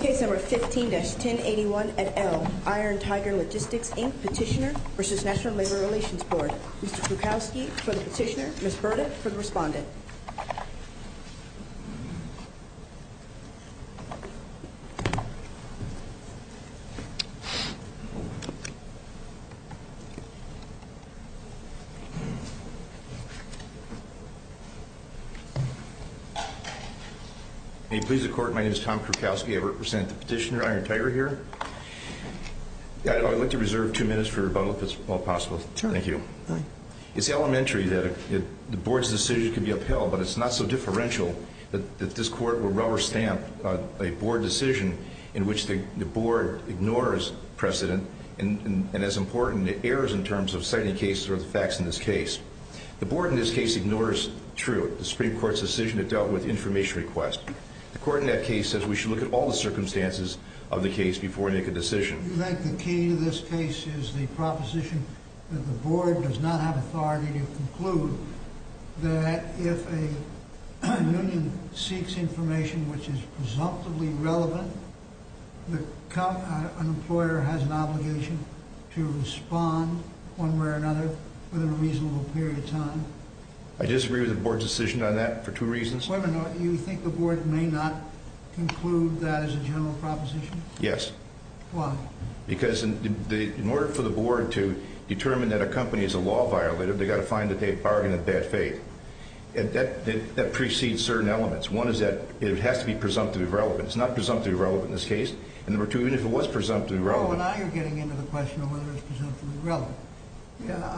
Case No. 15-1081 at Elm, IronTiger Logistics, Inc. Petitioner v. National Labor Relations Board Mr. Kukowski for the petitioner, Ms. Berta for the respondent Mr. Kukowski, Petitioner May it please the Court, my name is Tom Kukowski, I represent the petitioner, IronTiger, here. I'd like to reserve two minutes for rebuttal, if it's at all possible. Thank you. It's elementary that the Board's decision could be upheld, but it's not so differential that this Court will rubber-stamp a Board decision in which the Board ignores precedent and, as important, errors in terms of citing cases or the facts in this case. The Board in this case ignores truth, the Supreme Court's decision that dealt with information requests. The Court in that case says we should look at all the circumstances of the case before we make a decision. You think the key to this case is the proposition that the Board does not have authority to conclude that if a union seeks information which is presumptively relevant, an employer has an obligation to respond, one way or another, within a reasonable period of time? I disagree with the Board's decision on that for two reasons. Wait a minute, you think the Board may not conclude that as a general proposition? Yes. Why? Because in order for the Board to determine that a company is a law violator, they've got to find that they've bargained in bad faith. And that precedes certain elements. One is that it has to be presumptively relevant. It's not presumptively relevant in this case. And number two, even if it was presumptively relevant... Oh, and now you're getting into the question of whether it's presumptively relevant.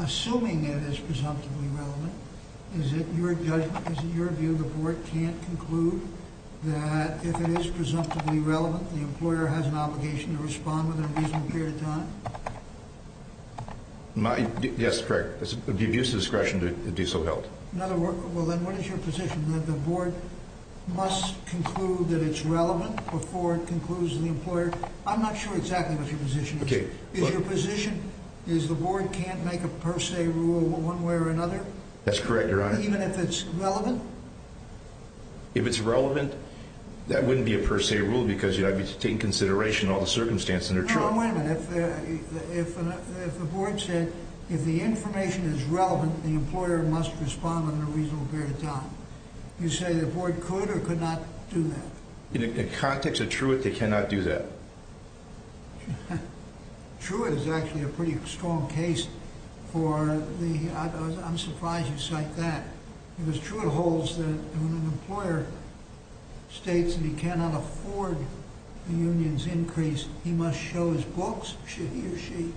Assuming it is presumptively relevant, is it your judgment, is it your view, the Board can't conclude that if it is presumptively relevant, the employer has an obligation to respond within a reasonable period of time? Yes, correct. It would be of use and discretion to do so, no. In other words, well then, what is your position, that the Board must conclude that it's relevant before it concludes to the employer? I'm not sure exactly what your position is. Is your position is the Board can't make a per se rule one way or another? That's correct, Your Honor. Even if it's relevant? If it's relevant, that wouldn't be a per se rule because you'd have to take into consideration all the circumstances that are true. Your Honor, wait a minute. If the Board said, if the information is relevant, the employer must respond within a reasonable period of time, you say the Board could or could not do that? In the context of Truett, they cannot do that. Truett is actually a pretty strong case for the... I'm surprised you cite that. Because Truett holds that when an employer states that he cannot afford the union's increase, he must show his books, should he or she.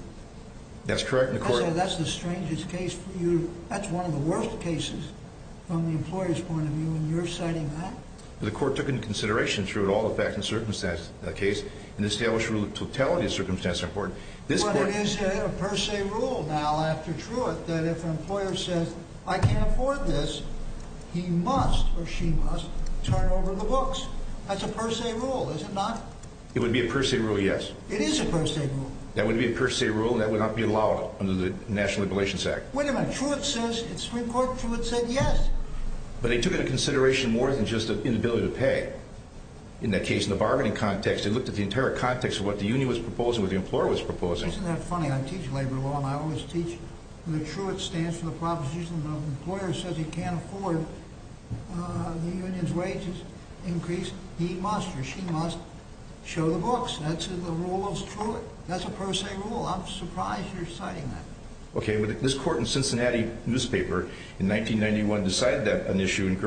That's correct, Your Honor. That's the strangest case for you. That's one of the worst cases from the employer's point of view, and you're citing that? The Court took into consideration through it all the facts and circumstances of the case and established a rule that totality of circumstances are important. But it is a per se rule now after Truett that if an employer says, I can't afford this, he must or she must turn over the books. That's a per se rule, is it not? It would be a per se rule, yes. It is a per se rule. That would be a per se rule, and that would not be allowed under the National Regulations Act. Wait a minute, Truett says, Supreme Court, Truett said yes. But they took into consideration more than just the inability to pay. In that case, in the bargaining context, they looked at the entire context of what the union was proposing, what the employer was proposing. Isn't that funny? I teach labor law, and I always teach that Truett stands for the proposition that if an employer says he can't afford the union's wages increase, he must or she must show the books. That's the rule of Truett. That's a per se rule. I'm surprised you're citing that. Okay, but this court in Cincinnati newspaper in 1991 decided that issue in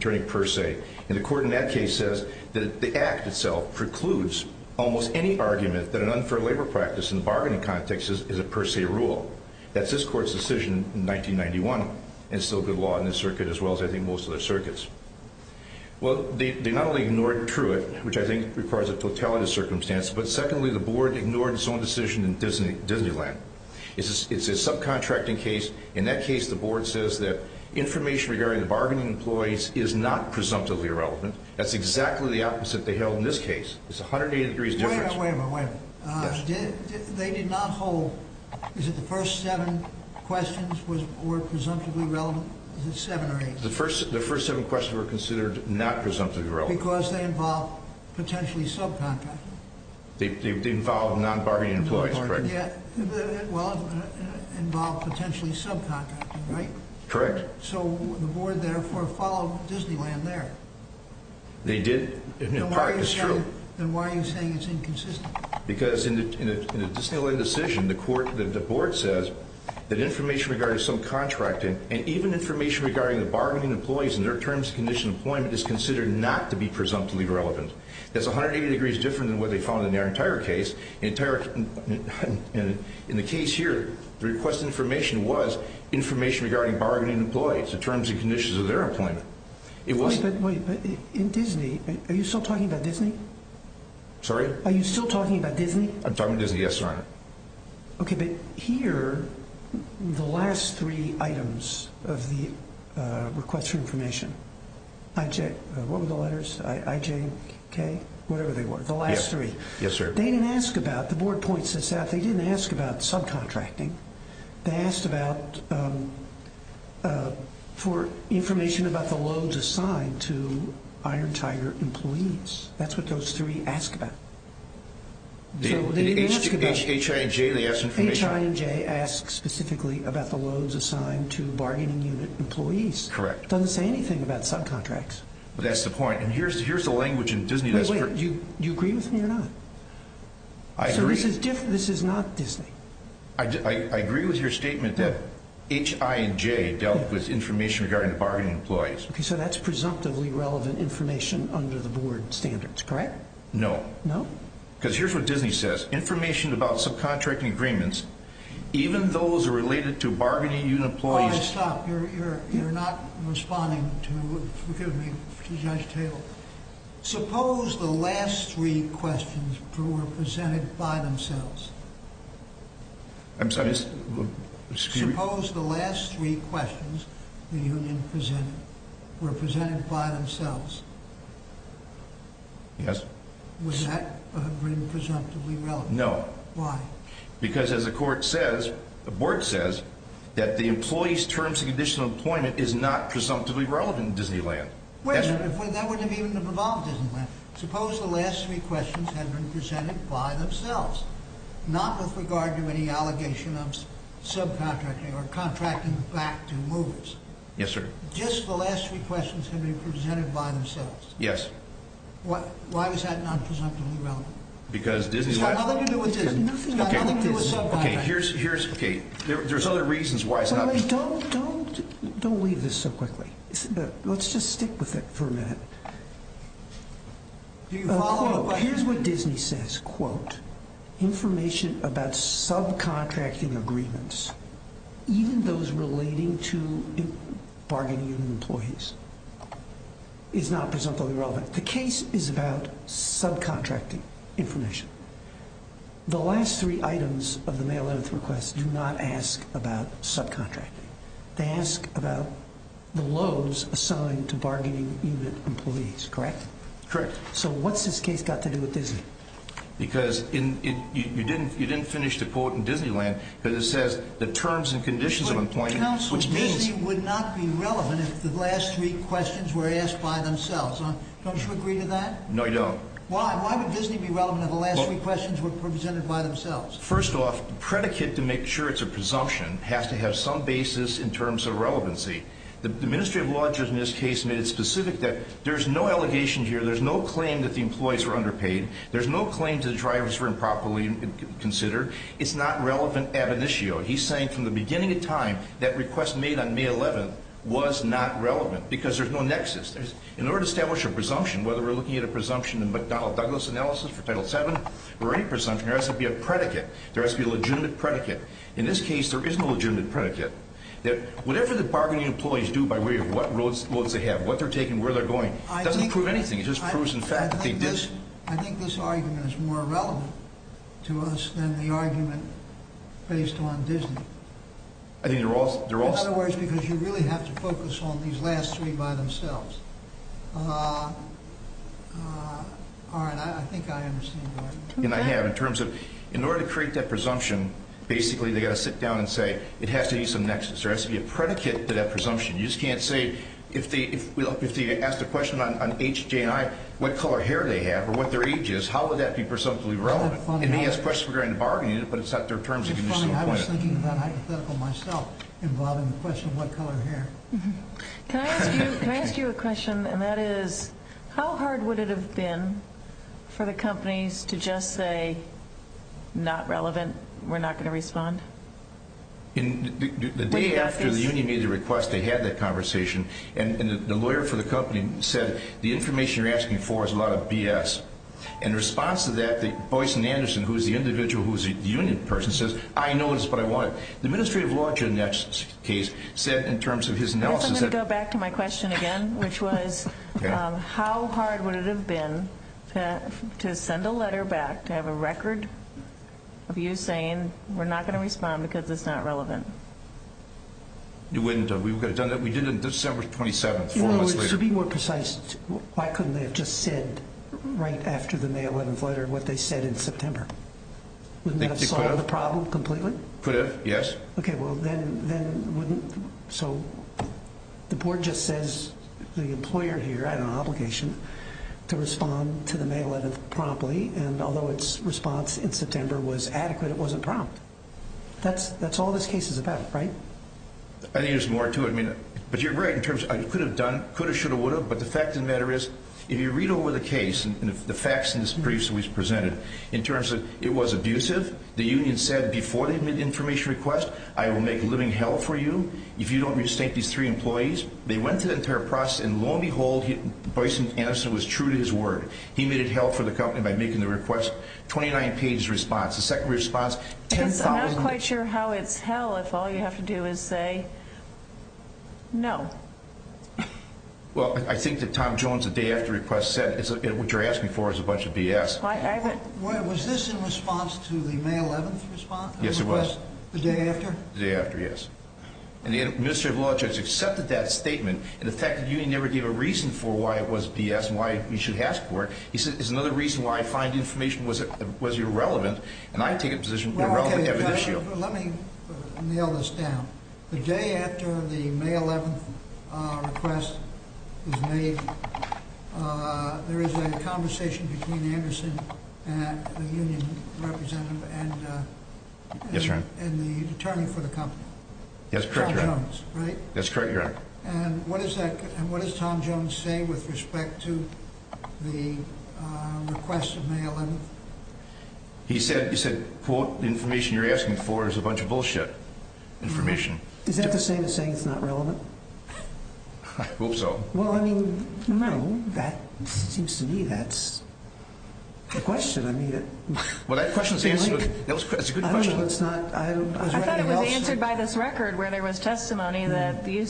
turning per se. And the court in that case says that the act itself precludes almost any argument that an unfair labor practice in the bargaining context is a per se rule. That's this court's decision in 1991. And it's still good law in this circuit as well as I think most other circuits. Well, they not only ignored Truett, which I think requires a totality of circumstance, but secondly, the board ignored its own decision in Disneyland. It's a subcontracting case. In that case, the board says that information regarding the bargaining employees is not presumptively irrelevant. That's exactly the opposite they held in this case. Wait a minute, wait a minute, wait a minute. They did not hold, is it the first seven questions were presumptively relevant? Is it seven or eight? The first seven questions were considered not presumptively relevant. Because they involve potentially subcontracting. They involve non-bargaining employees, correct? Well, involve potentially subcontracting, right? Correct. So the board therefore followed Disneyland there. They did in part, it's true. Then why are you saying it's inconsistent? Because in a Disneyland decision, the board says that information regarding subcontracting and even information regarding the bargaining employees and their terms and conditions of employment is considered not to be presumptively relevant. That's 180 degrees different than what they found in their entire case. In the case here, the request of information was information regarding bargaining employees, the terms and conditions of their employment. Wait, but in Disney, are you still talking about Disney? Sorry? Are you still talking about Disney? I'm talking about Disney, yes, Your Honor. Okay, but here, the last three items of the request for information, IJ, what were the letters? IJ, K, whatever they were, the last three. Yes, sir. They didn't ask about, the board points this out, they didn't ask about subcontracting. They asked about, for information about the loads assigned to Iron Tiger employees. That's what those three ask about. H, I, and J, they ask information. H, I, and J ask specifically about the loads assigned to bargaining unit employees. Correct. It doesn't say anything about subcontracts. That's the point. And here's the language in Disney. Wait, wait, do you agree with me or not? I agree. So this is not Disney? I agree with your statement that H, I, and J dealt with information regarding the bargaining employees. Okay, so that's presumptively relevant information under the board standards, correct? No. No? Because here's what Disney says. Information about subcontracting agreements, even those related to bargaining unit employees. All right, stop. You're not responding to, excuse me, to Judge Taylor. Suppose the last three questions were presented by themselves. I'm sorry? Suppose the last three questions were presented by themselves. Yes. Would that have been presumptively relevant? No. Why? Because as the court says, the board says, that the employees' terms of conditional employment is not presumptively relevant in Disneyland. Wait, that wouldn't have even involved Disneyland. Suppose the last three questions had been presented by themselves, not with regard to any allegation of subcontracting or contracting back to movers. Yes, sir. Just the last three questions had been presented by themselves. Yes. Why was that not presumptively relevant? Because Disneyland It's got nothing to do with Disney. It's got nothing to do with subcontracting. Okay, here's, okay, there's other reasons why it's not. Don't, don't, don't leave this so quickly. Let's just stick with it for a minute. Here's what Disney says, quote, information about subcontracting agreements, even those relating to bargaining with employees, is not presumptively relevant. The case is about subcontracting information. The last three items of the mail-in request do not ask about subcontracting. They ask about the loads assigned to bargaining unit employees, correct? Correct. So what's this case got to do with Disney? Because you didn't finish the quote in Disneyland because it says the terms and conditions of employment, which means Counsel, Disney would not be relevant if the last three questions were asked by themselves. Don't you agree to that? No, I don't. Why would Disney be relevant if the last three questions were presented by themselves? First off, predicate to make sure it's a presumption has to have some basis in terms of relevancy. The administrative law judge in this case made it specific that there's no allegation here, there's no claim that the employees were underpaid, there's no claim to the drivers were improperly considered. It's not relevant ab initio. He's saying from the beginning of time that request made on May 11th was not relevant because there's no nexus. In order to establish a presumption, whether we're looking at a presumption in McDonnell Douglas analysis for Title VII or any presumption, there has to be a predicate. There has to be a legitimate predicate. In this case, there is no legitimate predicate. Whatever the bargaining employees do by way of what loads they have, what they're taking, where they're going, doesn't prove anything. It just proves in fact that they did. I think this argument is more relevant to us than the argument based on Disney. I think they're all... In other words, because you really have to focus on these last three by themselves. All right. I think I understand your argument. And I have. In terms of in order to create that presumption, basically they've got to sit down and say it has to be some nexus. There has to be a predicate to that presumption. You just can't say if they asked a question on H, J, and I, what color hair they have or what their age is, how would that be presumptively relevant? And he has questions regarding the bargaining, but it's not their terms. I was thinking about hypothetical myself involving the question of what color hair. Can I ask you a question? And that is how hard would it have been for the companies to just say not relevant, we're not going to respond? The day after the union made the request, they had that conversation. And the lawyer for the company said the information you're asking for is a lot of BS. In response to that, Boyce and Anderson, who is the individual who is the union person, says, I know it's what I wanted. The administrative law judge in that case said in terms of his analysis that ‑‑ I guess I'm going to go back to my question again, which was how hard would it have been to send a letter back to have a record of you saying we're not going to respond because it's not relevant? It wouldn't have. We would have done that. We did it on December 27th, four months later. To be more precise, why couldn't they have just said right after the May 11th letter what they said in September? Wouldn't that have solved the problem completely? Could have, yes. Okay. So the board just says the employer here had an obligation to respond to the May 11th promptly. And although its response in September was adequate, it wasn't prompt. That's all this case is about, right? I think there's more to it. But you're right in terms of it could have done, could have, should have, would have. But the fact of the matter is if you read over the case and the facts in the briefs we presented, in terms of it was abusive, the union said before they made the information request, I will make living hell for you if you don't restate these three employees. They went through the entire process, and lo and behold, Boyce Anderson was true to his word. He made it hell for the company by making the request. 29‑page response. I'm not quite sure how it's hell if all you have to do is say no. Well, I think that Tom Jones, the day after request, said what you're asking for is a bunch of BS. Was this in response to the May 11th response? Yes, it was. The day after? The day after, yes. And the administrative law judge accepted that statement. In effect, the union never gave a reason for why it was BS and why we should ask for it. He said it's another reason why I find the information was irrelevant, and I take it as irrelevant evidence. Let me nail this down. The day after the May 11th request was made, there is a conversation between Anderson and the union representative and the attorney for the company. That's correct, Your Honor. Tom Jones, right? That's correct, Your Honor. And what does Tom Jones say with respect to the request of May 11th? He said, quote, the information you're asking for is a bunch of BS information. Is that the same as saying it's not relevant? I hope so. Well, I mean, no, that seems to me that's the question. I don't know. I thought it was answered by this record where there was testimony that the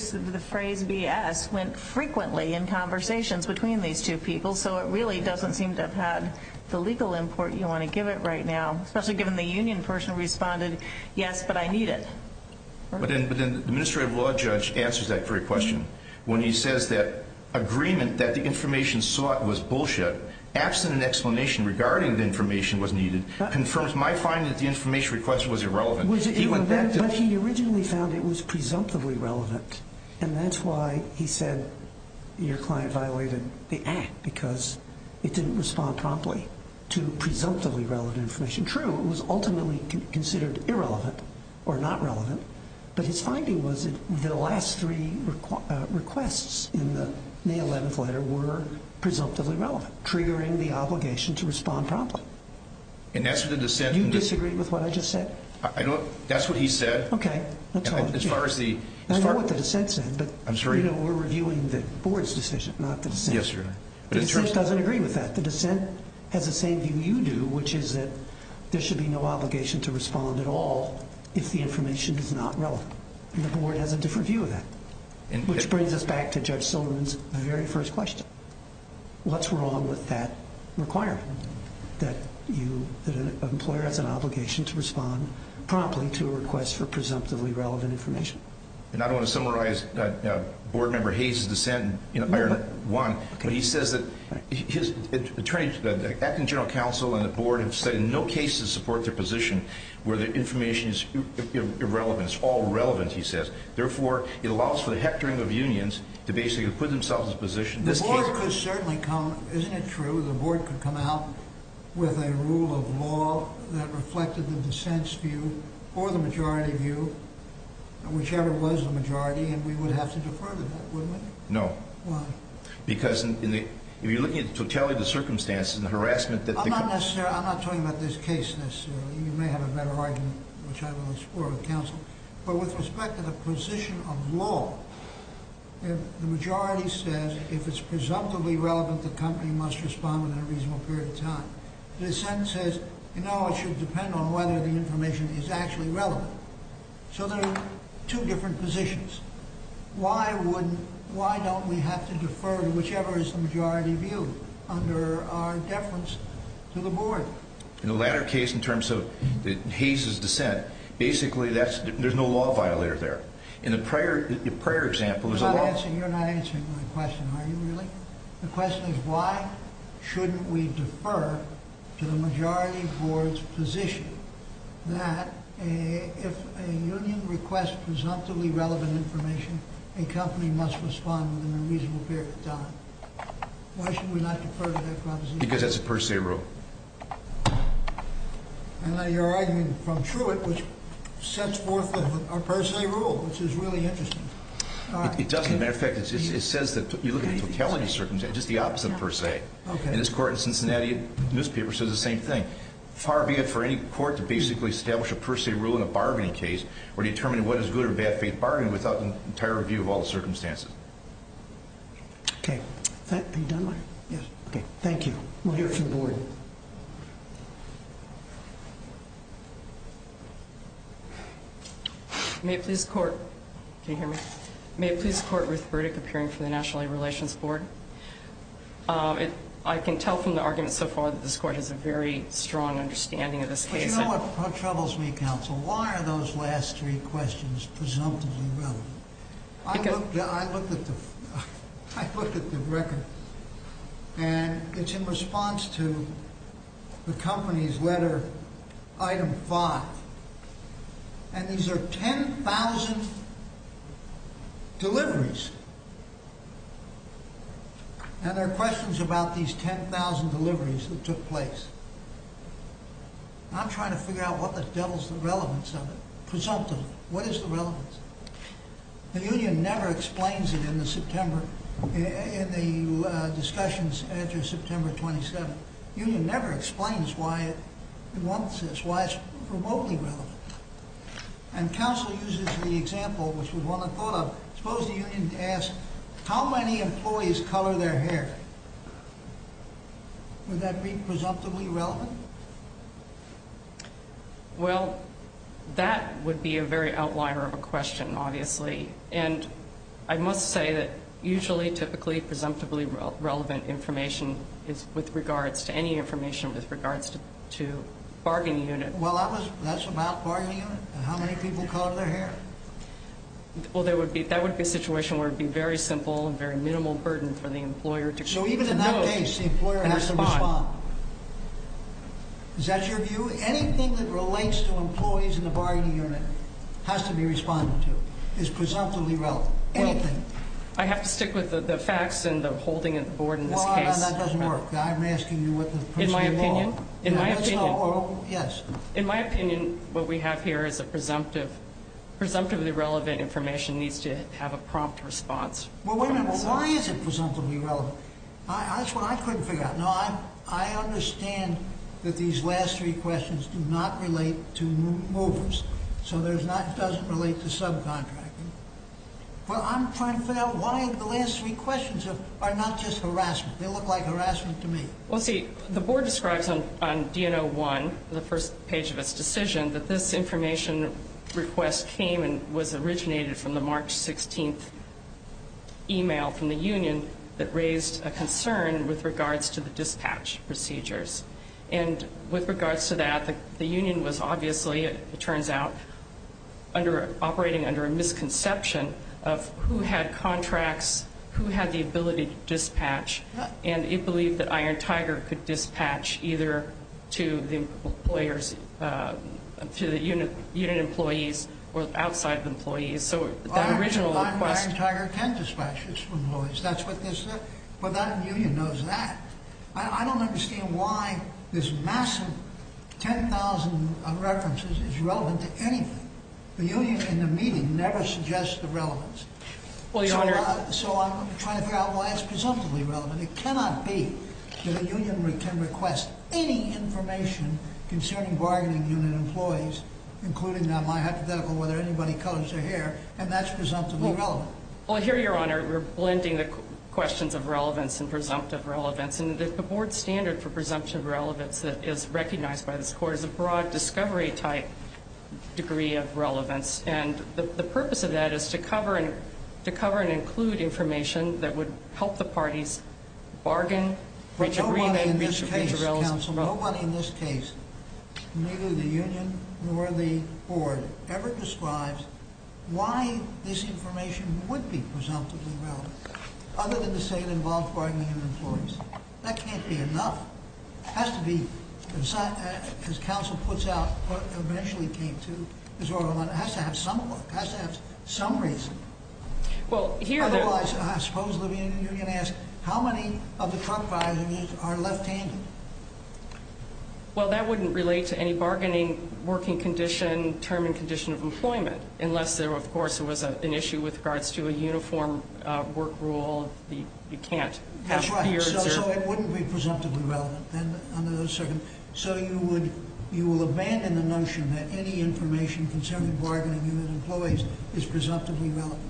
phrase BS went frequently in conversations between these two people, so it really doesn't seem to have had the legal import you want to give it right now, especially given the union person responded, yes, but I need it. But then the administrative law judge answers that very question when he says that agreement that the information sought was bullshit. Absent an explanation regarding the information was needed confirms my finding that the information request was irrelevant. But he originally found it was presumptively relevant, and that's why he said your client violated the act, because it didn't respond promptly to presumptively relevant information. True, it was ultimately considered irrelevant or not relevant, but his finding was that the last three requests in the May 11th letter were presumptively relevant. Triggering the obligation to respond promptly. And that's what the dissent. You disagree with what I just said. I know that's what he said. Okay. As far as the. I know what the dissent said. I'm sorry. You know, we're reviewing the board's decision, not the dissent. Yes, you're right. The dissent doesn't agree with that. The dissent has the same view you do, which is that there should be no obligation to respond at all if the information is not relevant. And the board has a different view of that, which brings us back to Judge Silverman's very first question. What's wrong with that requirement, that an employer has an obligation to respond promptly to a request for presumptively relevant information? And I don't want to summarize Board Member Hayes' dissent, but he says that the acting general counsel and the board have said in no case to support their position where the information is irrelevant. It's all irrelevant, he says. Therefore, it allows for the hectoring of unions to basically put themselves in a position. The board could certainly come. Isn't it true the board could come out with a rule of law that reflected the dissent's view or the majority view, whichever was the majority, and we would have to defer to that, wouldn't we? No. Why? Because if you're looking at the totality of the circumstances and the harassment that the. I'm not necessarily. I'm not talking about this case necessarily. You may have a better argument, which I will explore with counsel. But with respect to the position of law, the majority says if it's presumptively relevant, the company must respond in a reasonable period of time. The dissent says, you know, it should depend on whether the information is actually relevant. So there are two different positions. Why wouldn't, why don't we have to defer to whichever is the majority view under our deference to the board? In the latter case, in terms of Hayes' dissent, basically there's no law violator there. In the prior example, there's a law. You're not answering my question, are you really? The question is why shouldn't we defer to the majority board's position that if a union requests presumptively relevant information, a company must respond within a reasonable period of time? Why shouldn't we not defer to that proposition? Because that's a per se rule. I like your argument from Truett, which sets forth a per se rule, which is really interesting. It doesn't. As a matter of fact, it says that you look at totality circumstances, just the opposite of per se. And this court in Cincinnati newspaper says the same thing. Far be it for any court to basically establish a per se rule in a bargaining case or determine what is good or bad faith bargaining without an entire review of all the circumstances. Okay. Are you done? Yes. Okay. Thank you. We'll hear from the board. May it please the court. Can you hear me? May it please the court, Ruth Burdick, appearing for the National Labor Relations Board. I can tell from the argument so far that this court has a very strong understanding of this case. But you know what troubles me, counsel? Why are those last three questions presumptively relevant? I looked at the record. And it's in response to the company's letter item five. And these are 10,000 deliveries. And there are questions about these 10,000 deliveries that took place. I'm trying to figure out what the devil's the relevance of it. Presumptively. What is the relevance? The union never explains it in the September, in the discussions after September 27th. The union never explains why it wants this, why it's remotely relevant. And counsel uses the example, which we want to follow up. Suppose the union asks, how many employees color their hair? Would that be presumptively relevant? Well, that would be a very outlier of a question, obviously. And I must say that usually, typically, presumptively relevant information is with regards to any information with regards to bargaining units. Well, that's about bargaining units? How many people color their hair? Well, that would be a situation where it would be very simple and very minimal burden for the employer. So even in that case, the employer has to respond. Is that your view? Anything that relates to employees in the bargaining unit has to be responded to. It's presumptively relevant. Anything. I have to stick with the facts and the holding of the board in this case. Well, that doesn't work. I'm asking you what the presumption is. In my opinion, what we have here is a presumptive. Presumptively relevant information needs to have a prompt response. Well, wait a minute. Why is it presumptively relevant? That's what I couldn't figure out. No, I understand that these last three questions do not relate to movers. So it doesn't relate to subcontracting. Well, I'm trying to figure out why the last three questions are not just harassment. They look like harassment to me. Well, see, the board describes on DNO1, the first page of its decision, that this information request came and was originated from the March 16th email from the union that raised a concern with regards to the dispatch procedures. And with regards to that, the union was obviously, it turns out, operating under a misconception of who had contracts, who had the ability to dispatch, and it believed that Iron Tiger could dispatch either to the employers, to the unit employees or outside of employees. So that original request. Iron Tiger can dispatch its employees. That's what this, but that union knows that. I don't understand why this massive 10,000 references is relevant to anything. The union in the meeting never suggests the relevance. Well, Your Honor. So I'm trying to figure out why it's presumptively relevant. It cannot be that a union can request any information concerning bargaining unit employees, including my hypothetical, whether anybody colors their hair, and that's presumptively relevant. Well, here, Your Honor, we're blending the questions of relevance and presumptive relevance. And the board standard for presumptive relevance that is recognized by this court is a broad discovery type degree of relevance. And the purpose of that is to cover and include information that would help the parties bargain. But nobody in this case, counsel, nobody in this case, neither the union nor the board, ever describes why this information would be presumptively relevant, other than to say it involved bargaining unit employees. That can't be enough. It has to be, as counsel puts out, eventually came to, it has to have some reason. Otherwise, I suppose you're going to ask, how many of the truck drivers are left-handed? Well, that wouldn't relate to any bargaining working condition, term and condition of employment, unless, of course, there was an issue with regards to a uniform work rule. You can't have beards. So it wouldn't be presumptively relevant under those circumstances. So you will abandon the notion that any information concerning bargaining unit employees is presumptively relevant?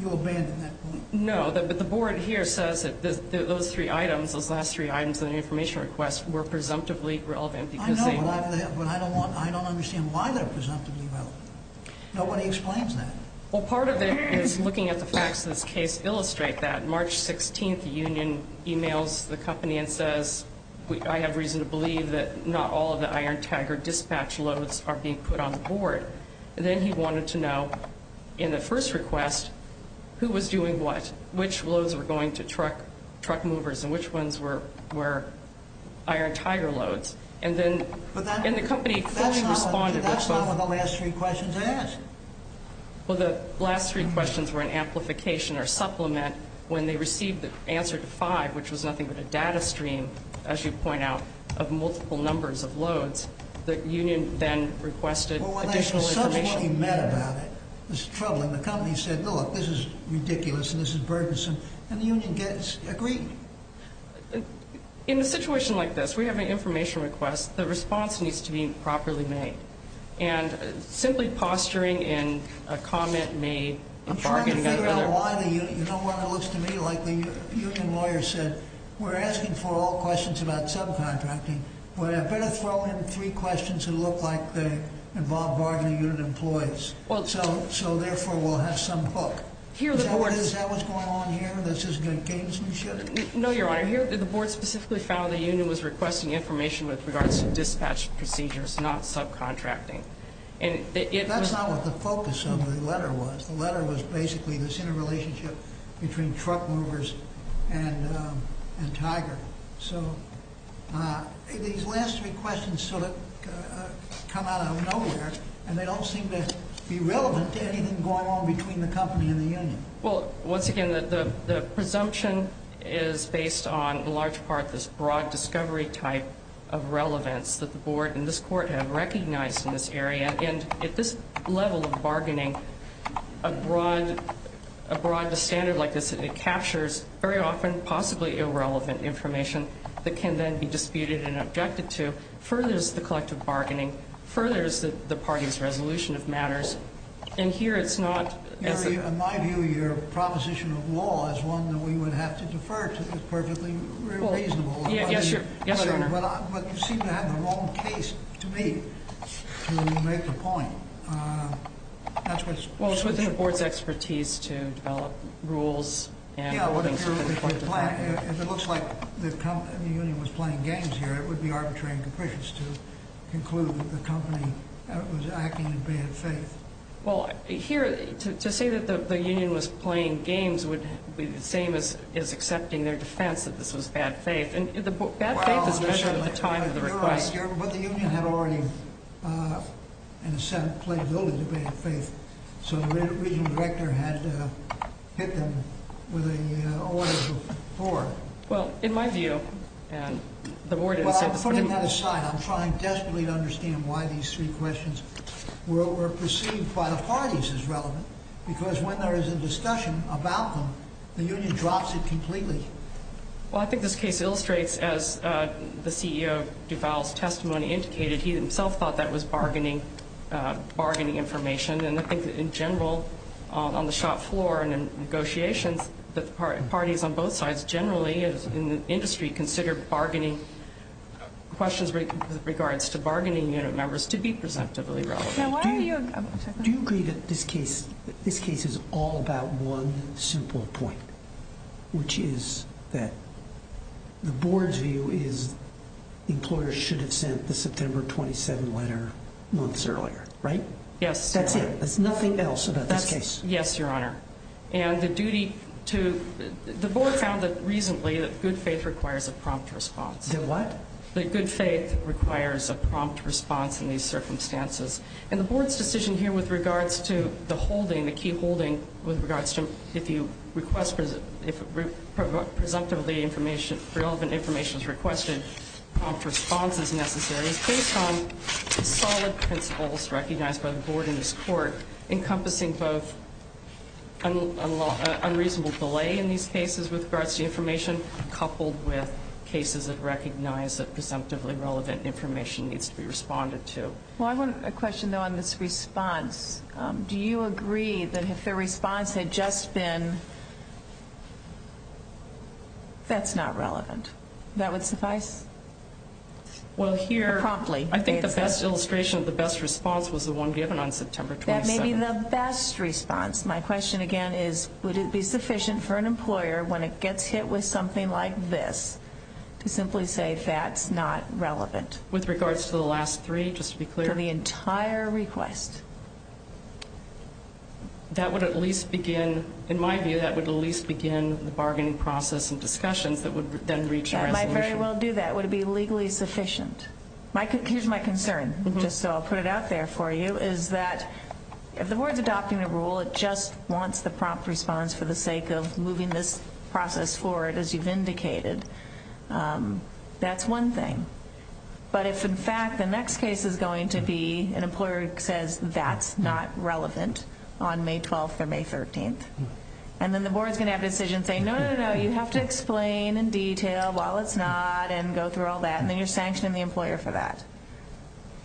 You'll abandon that point? No, but the board here says that those three items, those last three items in the information request were presumptively relevant. I know, but I don't understand why they're presumptively relevant. Nobody explains that. Well, part of it is looking at the facts of this case illustrate that. On March 16th, the union emails the company and says, I have reason to believe that not all of the Iron Tiger dispatch loads are being put on the board. And then he wanted to know, in the first request, who was doing what, which loads were going to truck movers and which ones were Iron Tiger loads. And then the company fully responded with both. That's not what the last three questions asked. Well, the last three questions were an amplification or supplement. When they received the answer to five, which was nothing but a data stream, as you point out, of multiple numbers of loads, the union then requested additional information. Well, when they subsequently met about it, this is troubling. The company said, look, this is ridiculous and this is burdensome. And the union gets agreed. In a situation like this, we have an information request. The response needs to be properly made. And simply posturing in a comment made, a bargain got together. I'm trying to figure out why the union, you know what it looks to me like the union lawyer said, we're asking for all questions about subcontracting, but I better throw in three questions that look like they involve bargaining unit employees. So, therefore, we'll have some hook. Is that what's going on here? This is good gamesmanship? No, Your Honor. Here, the board specifically found the union was requesting information with regards to dispatch procedures, not subcontracting. That's not what the focus of the letter was. The letter was basically this interrelationship between truck movers and Tiger. So these last three questions sort of come out of nowhere, and they don't seem to be relevant to anything going on between the company and the union. Well, once again, the presumption is based on, in large part, this broad discovery type of relevance that the board and this court have recognized in this area. And at this level of bargaining, a broad standard like this, it captures very often possibly irrelevant information that can then be disputed and objected to, furthers the collective bargaining, furthers the party's resolution of matters. And here it's not. In my view, your proposition of law is one that we would have to defer to is perfectly reasonable. Yes, Your Honor. But you seem to have the wrong case to me to make the point. Well, it's within the board's expertise to develop rules. Yeah, well, if it looks like the union was playing games here, it would be arbitrary and capricious to conclude that the company was acting in bad faith. Well, here, to say that the union was playing games would be the same as accepting their defense that this was bad faith. And bad faith is measured at the time of the request. You're right. But the union had already, in a sense, played a little bit of faith. So the regional director had to hit them with an order from the board. Well, in my view, and the board didn't say before. Putting that aside, I'm trying desperately to understand why these three questions were perceived by the parties as relevant, because when there is a discussion about them, the union drops it completely. Well, I think this case illustrates, as the CEO of Duval's testimony indicated, he himself thought that was bargaining information. And I think that, in general, on the shop floor and in negotiations, parties on both sides generally in the industry consider questions with regards to bargaining unit members to be presumptively relevant. Do you agree that this case is all about one simple point, which is that the board's view is the employer should have sent the September 27 letter months earlier, right? Yes. That's it? There's nothing else about this case? Yes, Your Honor. And the duty to – the board found that recently that good faith requires a prompt response. A what? That good faith requires a prompt response in these circumstances. And the board's decision here with regards to the holding, the key holding with regards to if you request – if presumptively information – relevant information is requested, prompt response is necessary, is based on solid principles recognized by the board in this court, encompassing both unreasonable delay in these cases with regards to information, coupled with cases that recognize that presumptively relevant information needs to be responded to. Well, I want a question, though, on this response. Do you agree that if the response had just been, that's not relevant, that would suffice? Well, here – Promptly. I think the best illustration of the best response was the one given on September 27. That may be the best response. My question, again, is would it be sufficient for an employer when it gets hit with something like this to simply say that's not relevant? With regards to the last three, just to be clear? To the entire request. That would at least begin – in my view, that would at least begin the bargaining process and discussions that would then reach a resolution. Would it very well do that? Would it be legally sufficient? Here's my concern, just so I'll put it out there for you, is that if the board's adopting a rule, it just wants the prompt response for the sake of moving this process forward, as you've indicated, that's one thing. But if, in fact, the next case is going to be an employer who says that's not relevant on May 12th or May 13th, and then the board's going to have a decision saying, no, no, no, you have to explain in detail, well, it's not, and go through all that, and then you're sanctioning the employer for that.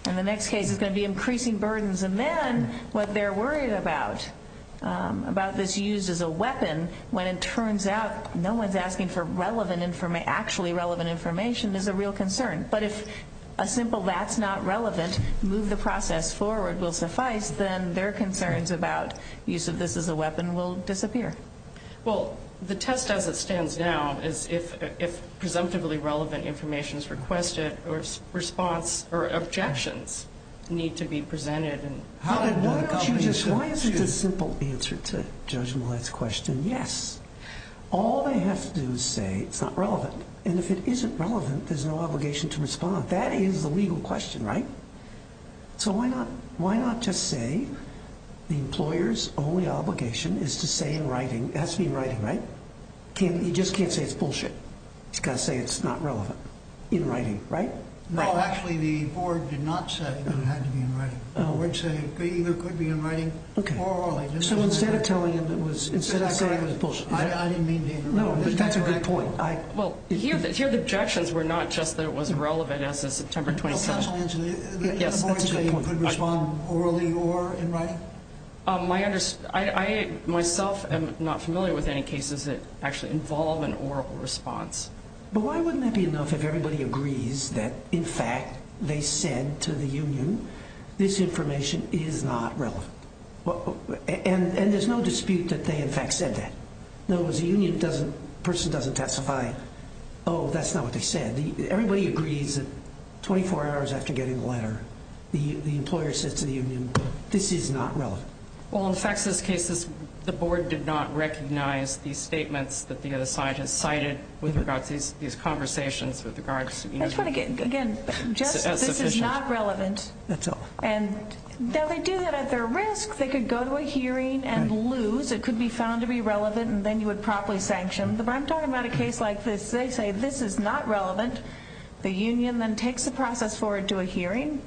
And the next case is going to be increasing burdens. And then what they're worried about, about this used as a weapon, when it turns out no one's asking for actually relevant information, is a real concern. But if a simple that's not relevant, move the process forward will suffice, then their concerns about use of this as a weapon will disappear. Well, the test as it stands now is if presumptively relevant information is requested, or if response or objections need to be presented. Why is it a simple answer to Judge Millett's question? Yes. All they have to do is say it's not relevant. And if it isn't relevant, there's no obligation to respond. That is the legal question, right? So why not just say the employer's only obligation is to say in writing, it has to be in writing, right? He just can't say it's bullshit. He's got to say it's not relevant in writing, right? No, actually, the board did not say that it had to be in writing. The board said it either could be in writing or they didn't. So instead of telling him it was, instead of saying it was bullshit. I didn't mean to interrupt. No, but that's a good point. Well, here the objections were not just that it wasn't relevant as of September 27th. Counselor Angeli, the board could respond orally or in writing? I myself am not familiar with any cases that actually involve an oral response. But why wouldn't that be enough if everybody agrees that, in fact, they said to the union this information is not relevant? And there's no dispute that they, in fact, said that. No, as a union, a person doesn't testify, oh, that's not what they said. Everybody agrees that 24 hours after getting the letter, the employer said to the union, this is not relevant. Well, in fact, in this case, the board did not recognize these statements that the other side has cited with regards to these conversations with regards to, you know. That's what I get. Again, just this is not relevant. That's all. Now, they do that at their risk. They could go to a hearing and lose. It could be found to be relevant, and then you would promptly sanction. I'm talking about a case like this. They say this is not relevant. The union then takes the process forward to a hearing,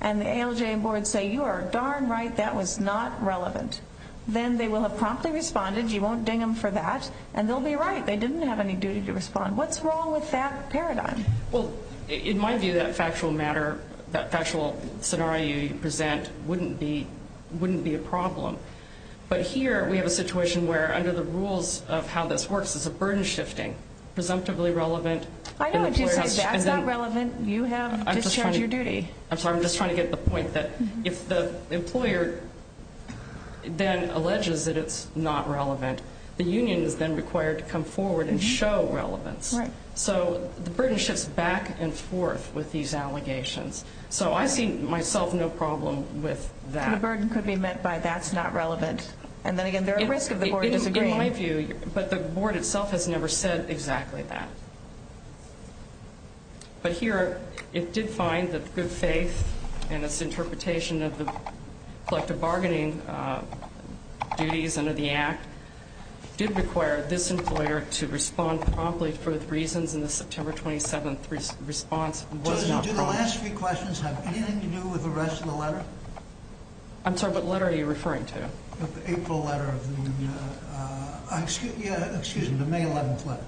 and the ALJ and board say, you are darn right, that was not relevant. Then they will have promptly responded. You won't ding them for that, and they'll be right. They didn't have any duty to respond. What's wrong with that paradigm? Well, in my view, that factual matter, that factual scenario you present wouldn't be a problem. But here we have a situation where under the rules of how this works, there's a burden shifting, presumptively relevant. I know what you're saying. That's not relevant. You have discharged your duty. I'm sorry. I'm just trying to get the point that if the employer then alleges that it's not relevant, the union is then required to come forward and show relevance. Right. So the burden shifts back and forth with these allegations. So I see myself no problem with that. The burden could be met by that's not relevant. And then again, there are risks of the board disagreeing. In my view, but the board itself has never said exactly that. But here it did find that good faith and its interpretation of the collective bargaining duties under the act did require this employer to respond promptly for the reasons in the September 27th response was not prompt. Do the last three questions have anything to do with the rest of the letter? I'm sorry. What letter are you referring to? The April letter of the, excuse me, the May 11th letter.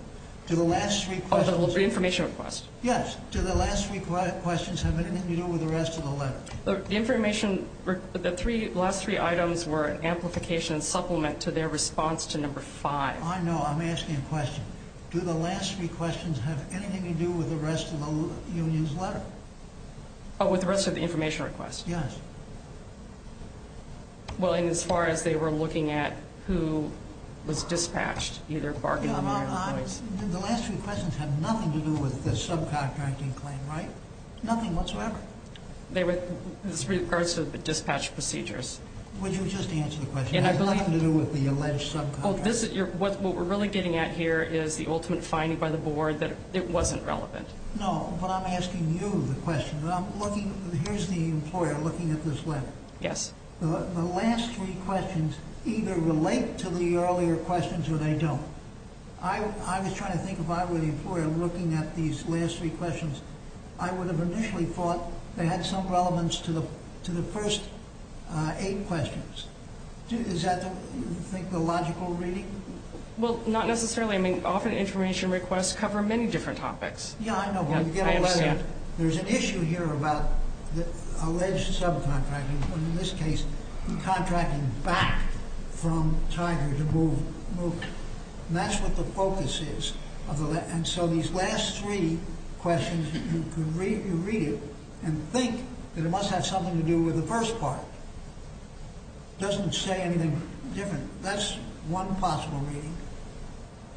Do the last three questions. The information request. Yes. Do the last three questions have anything to do with the rest of the letter? The information, the last three items were an amplification supplement to their response to number five. I know. I'm asking a question. Do the last three questions have anything to do with the rest of the union's letter? Oh, with the rest of the information request? Yes. Well, and as far as they were looking at who was dispatched, either bargaining or employees. The last three questions have nothing to do with the subcontracting claim, right? Nothing whatsoever. They were in regards to the dispatch procedures. Would you just answer the question? It has nothing to do with the alleged subcontracting. What we're really getting at here is the ultimate finding by the board that it wasn't relevant. No, but I'm asking you the question. I'm looking, here's the employer looking at this letter. Yes. The last three questions either relate to the earlier questions or they don't. I was trying to think if I were the employer looking at these last three questions, I would have initially thought they had some relevance to the first eight questions. Is that, do you think, the logical reading? Well, not necessarily. I mean, often information requests cover many different topics. Yeah, I know. I understand. There's an issue here about the alleged subcontracting, but in this case contracting back from Tiger to move, move. And that's what the focus is. And so these last three questions, you read it and think that it must have something to do with the first part. It doesn't say anything different. That's one possible reading.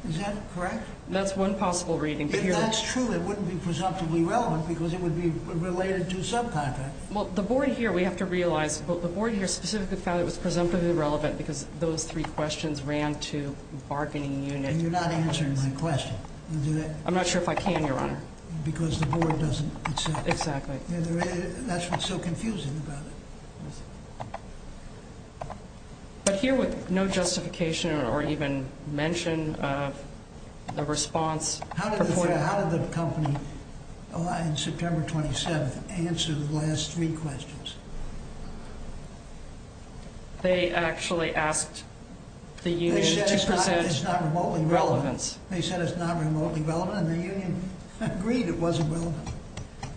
Is that correct? That's one possible reading. If that's true, it wouldn't be presumptively relevant because it would be related to subcontracting. Well, the board here, we have to realize, but the board here specifically found it was presumptively relevant because those three questions ran to bargaining unit. And you're not answering my question. I'm not sure if I can, Your Honor. Because the board doesn't accept it. Exactly. That's what's so confusing about it. But here with no justification or even mention of the response. How did the company on September 27th answer the last three questions? They actually asked the union to present relevance. They said it's not remotely relevant. They said it's not remotely relevant, and the union agreed it wasn't relevant.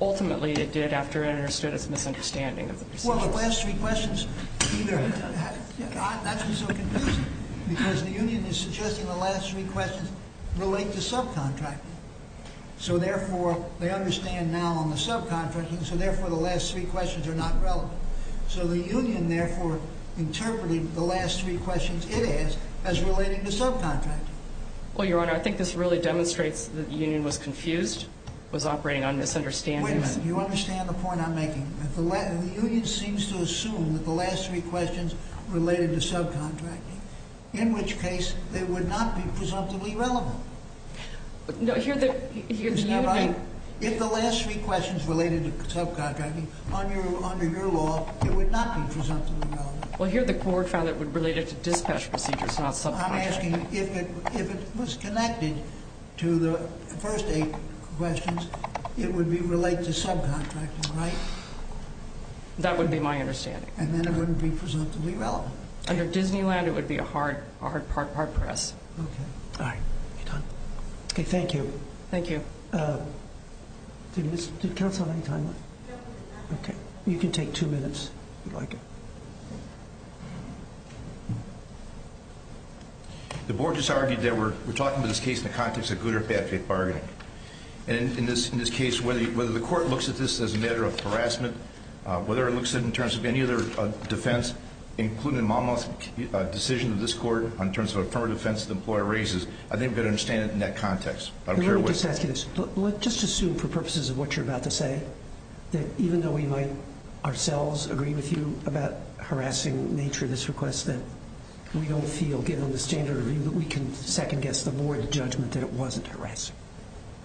Ultimately, it did after it understood its misunderstanding. Well, the last three questions, that's what's so confusing. Because the union is suggesting the last three questions relate to subcontracting. So, therefore, they understand now on the subcontracting, so, therefore, the last three questions are not relevant. So the union, therefore, interpreted the last three questions it asked as relating to subcontracting. Well, Your Honor, I think this really demonstrates that the union was confused, was operating on misunderstanding. You understand the point I'm making? The union seems to assume that the last three questions related to subcontracting, in which case they would not be presumptively relevant. No, here the union. If the last three questions related to subcontracting, under your law, it would not be presumptively relevant. Well, here the court found it related to dispatch procedures, not subcontracting. I'm asking if it was connected to the first eight questions, it would relate to subcontracting, right? That would be my understanding. And then it wouldn't be presumptively relevant. Under Disneyland, it would be a hard press. Okay. All right. Are you done? Okay, thank you. Thank you. Did counsel have any time left? No, we're done. Okay. You can take two minutes if you'd like. The board just argued that we're talking about this case in the context of good or bad bargaining. And in this case, whether the court looks at this as a matter of harassment, whether it looks at it in terms of any other defense, including Maumau's decision of this court in terms of affirmative defense that the employer raises, I think we've got to understand it in that context. Let me just ask you this. Let's just assume, for purposes of what you're about to say, that even though we might ourselves agree with you about harassing nature of this request, that we don't feel, given the standard of view, that we can second-guess the board judgment that it wasn't harassing.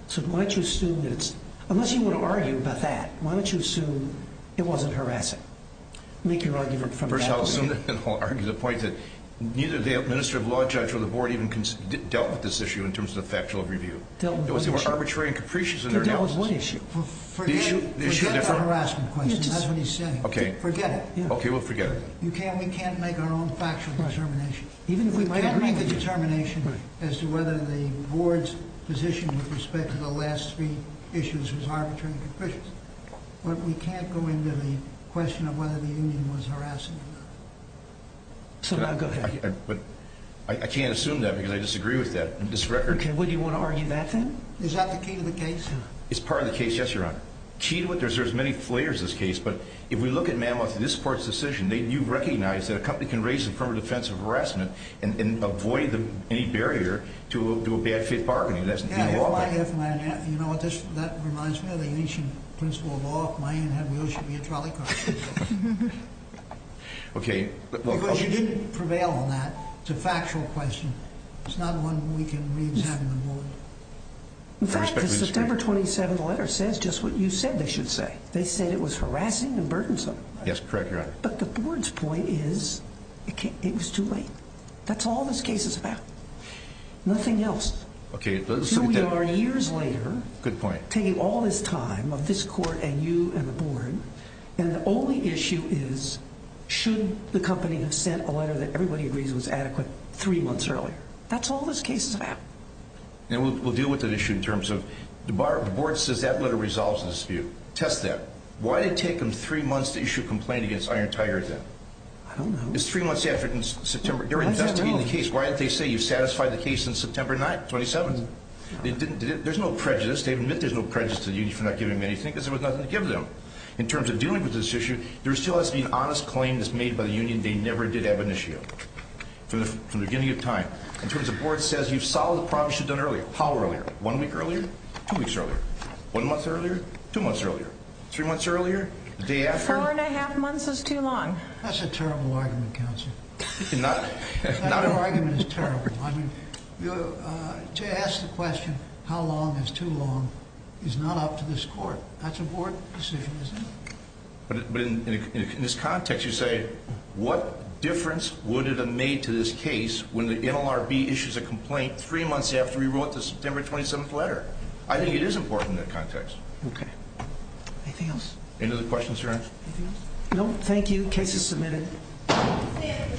So why don't you assume that it's – unless you want to argue about that, why don't you assume it wasn't harassing? Make your argument from that perspective. First, I'll assume that I'll argue the point that neither the administrative law judge or the board even dealt with this issue in terms of the factual review. They were arbitrary and capricious in their analysis. They dealt with one issue. Forget the harassment question. That's what he's saying. Okay. Forget it. Okay, we'll forget it. We can't make our own factual determination, even if we might agree with the determination as to whether the board's position with respect to the last three issues was arbitrary and capricious. But we can't go into the question of whether the union was harassing. So now go ahead. I can't assume that because I disagree with that. Okay, well, do you want to argue that, then? Is that the key to the case? It's part of the case, yes, Your Honor. Key to it, there's many layers to this case, but if we look at Mammoth and this court's decision, you recognize that a company can raise it from a defense of harassment and avoid any barrier to a bad-fit bargaining. Yeah, well, I have my – you know what, that reminds me of the ancient principle of all of mine had wheels should be a trolley car. Okay. Because you didn't prevail on that. It's a factual question. It's not one we can reach out to the board. In fact, the September 27th letter says just what you said they should say. They said it was harassing and burdensome. Yes, correct, Your Honor. But the board's point is it was too late. That's all this case is about, nothing else. Okay, it doesn't seem to – Here we are years later taking all this time of this court and you and the board, and the only issue is should the company have sent a letter that everybody agrees was adequate three months earlier. That's all this case is about. And we'll deal with that issue in terms of the board says that letter resolves the dispute. Test that. Why did it take them three months to issue a complaint against Iron Tiger then? I don't know. It's three months after September. They're investigating the case. Why didn't they say you satisfied the case on September 9th, 27th? There's no prejudice. They admit there's no prejudice to the union for not giving them anything because there was nothing to give them. In terms of dealing with this issue, there still has to be an honest claim that's made by the union they never did have an issue of from the beginning of time. In terms of the board says you've solved the problem you should have done earlier. How earlier? One week earlier? Two weeks earlier? One month earlier? Two months earlier? Three months earlier? The day after? Four and a half months is too long. That's a terrible argument, Counselor. Not a – That argument is terrible. I mean, to ask the question how long is too long is not up to this court. That's a board decision, isn't it? But in this context, you say what difference would it have made to this case when the NLRB issues a complaint three months after we wrote the September 27th letter? I think it is important in that context. Okay. Anything else? Any other questions, Your Honor? Anything else? No, thank you. Case is submitted.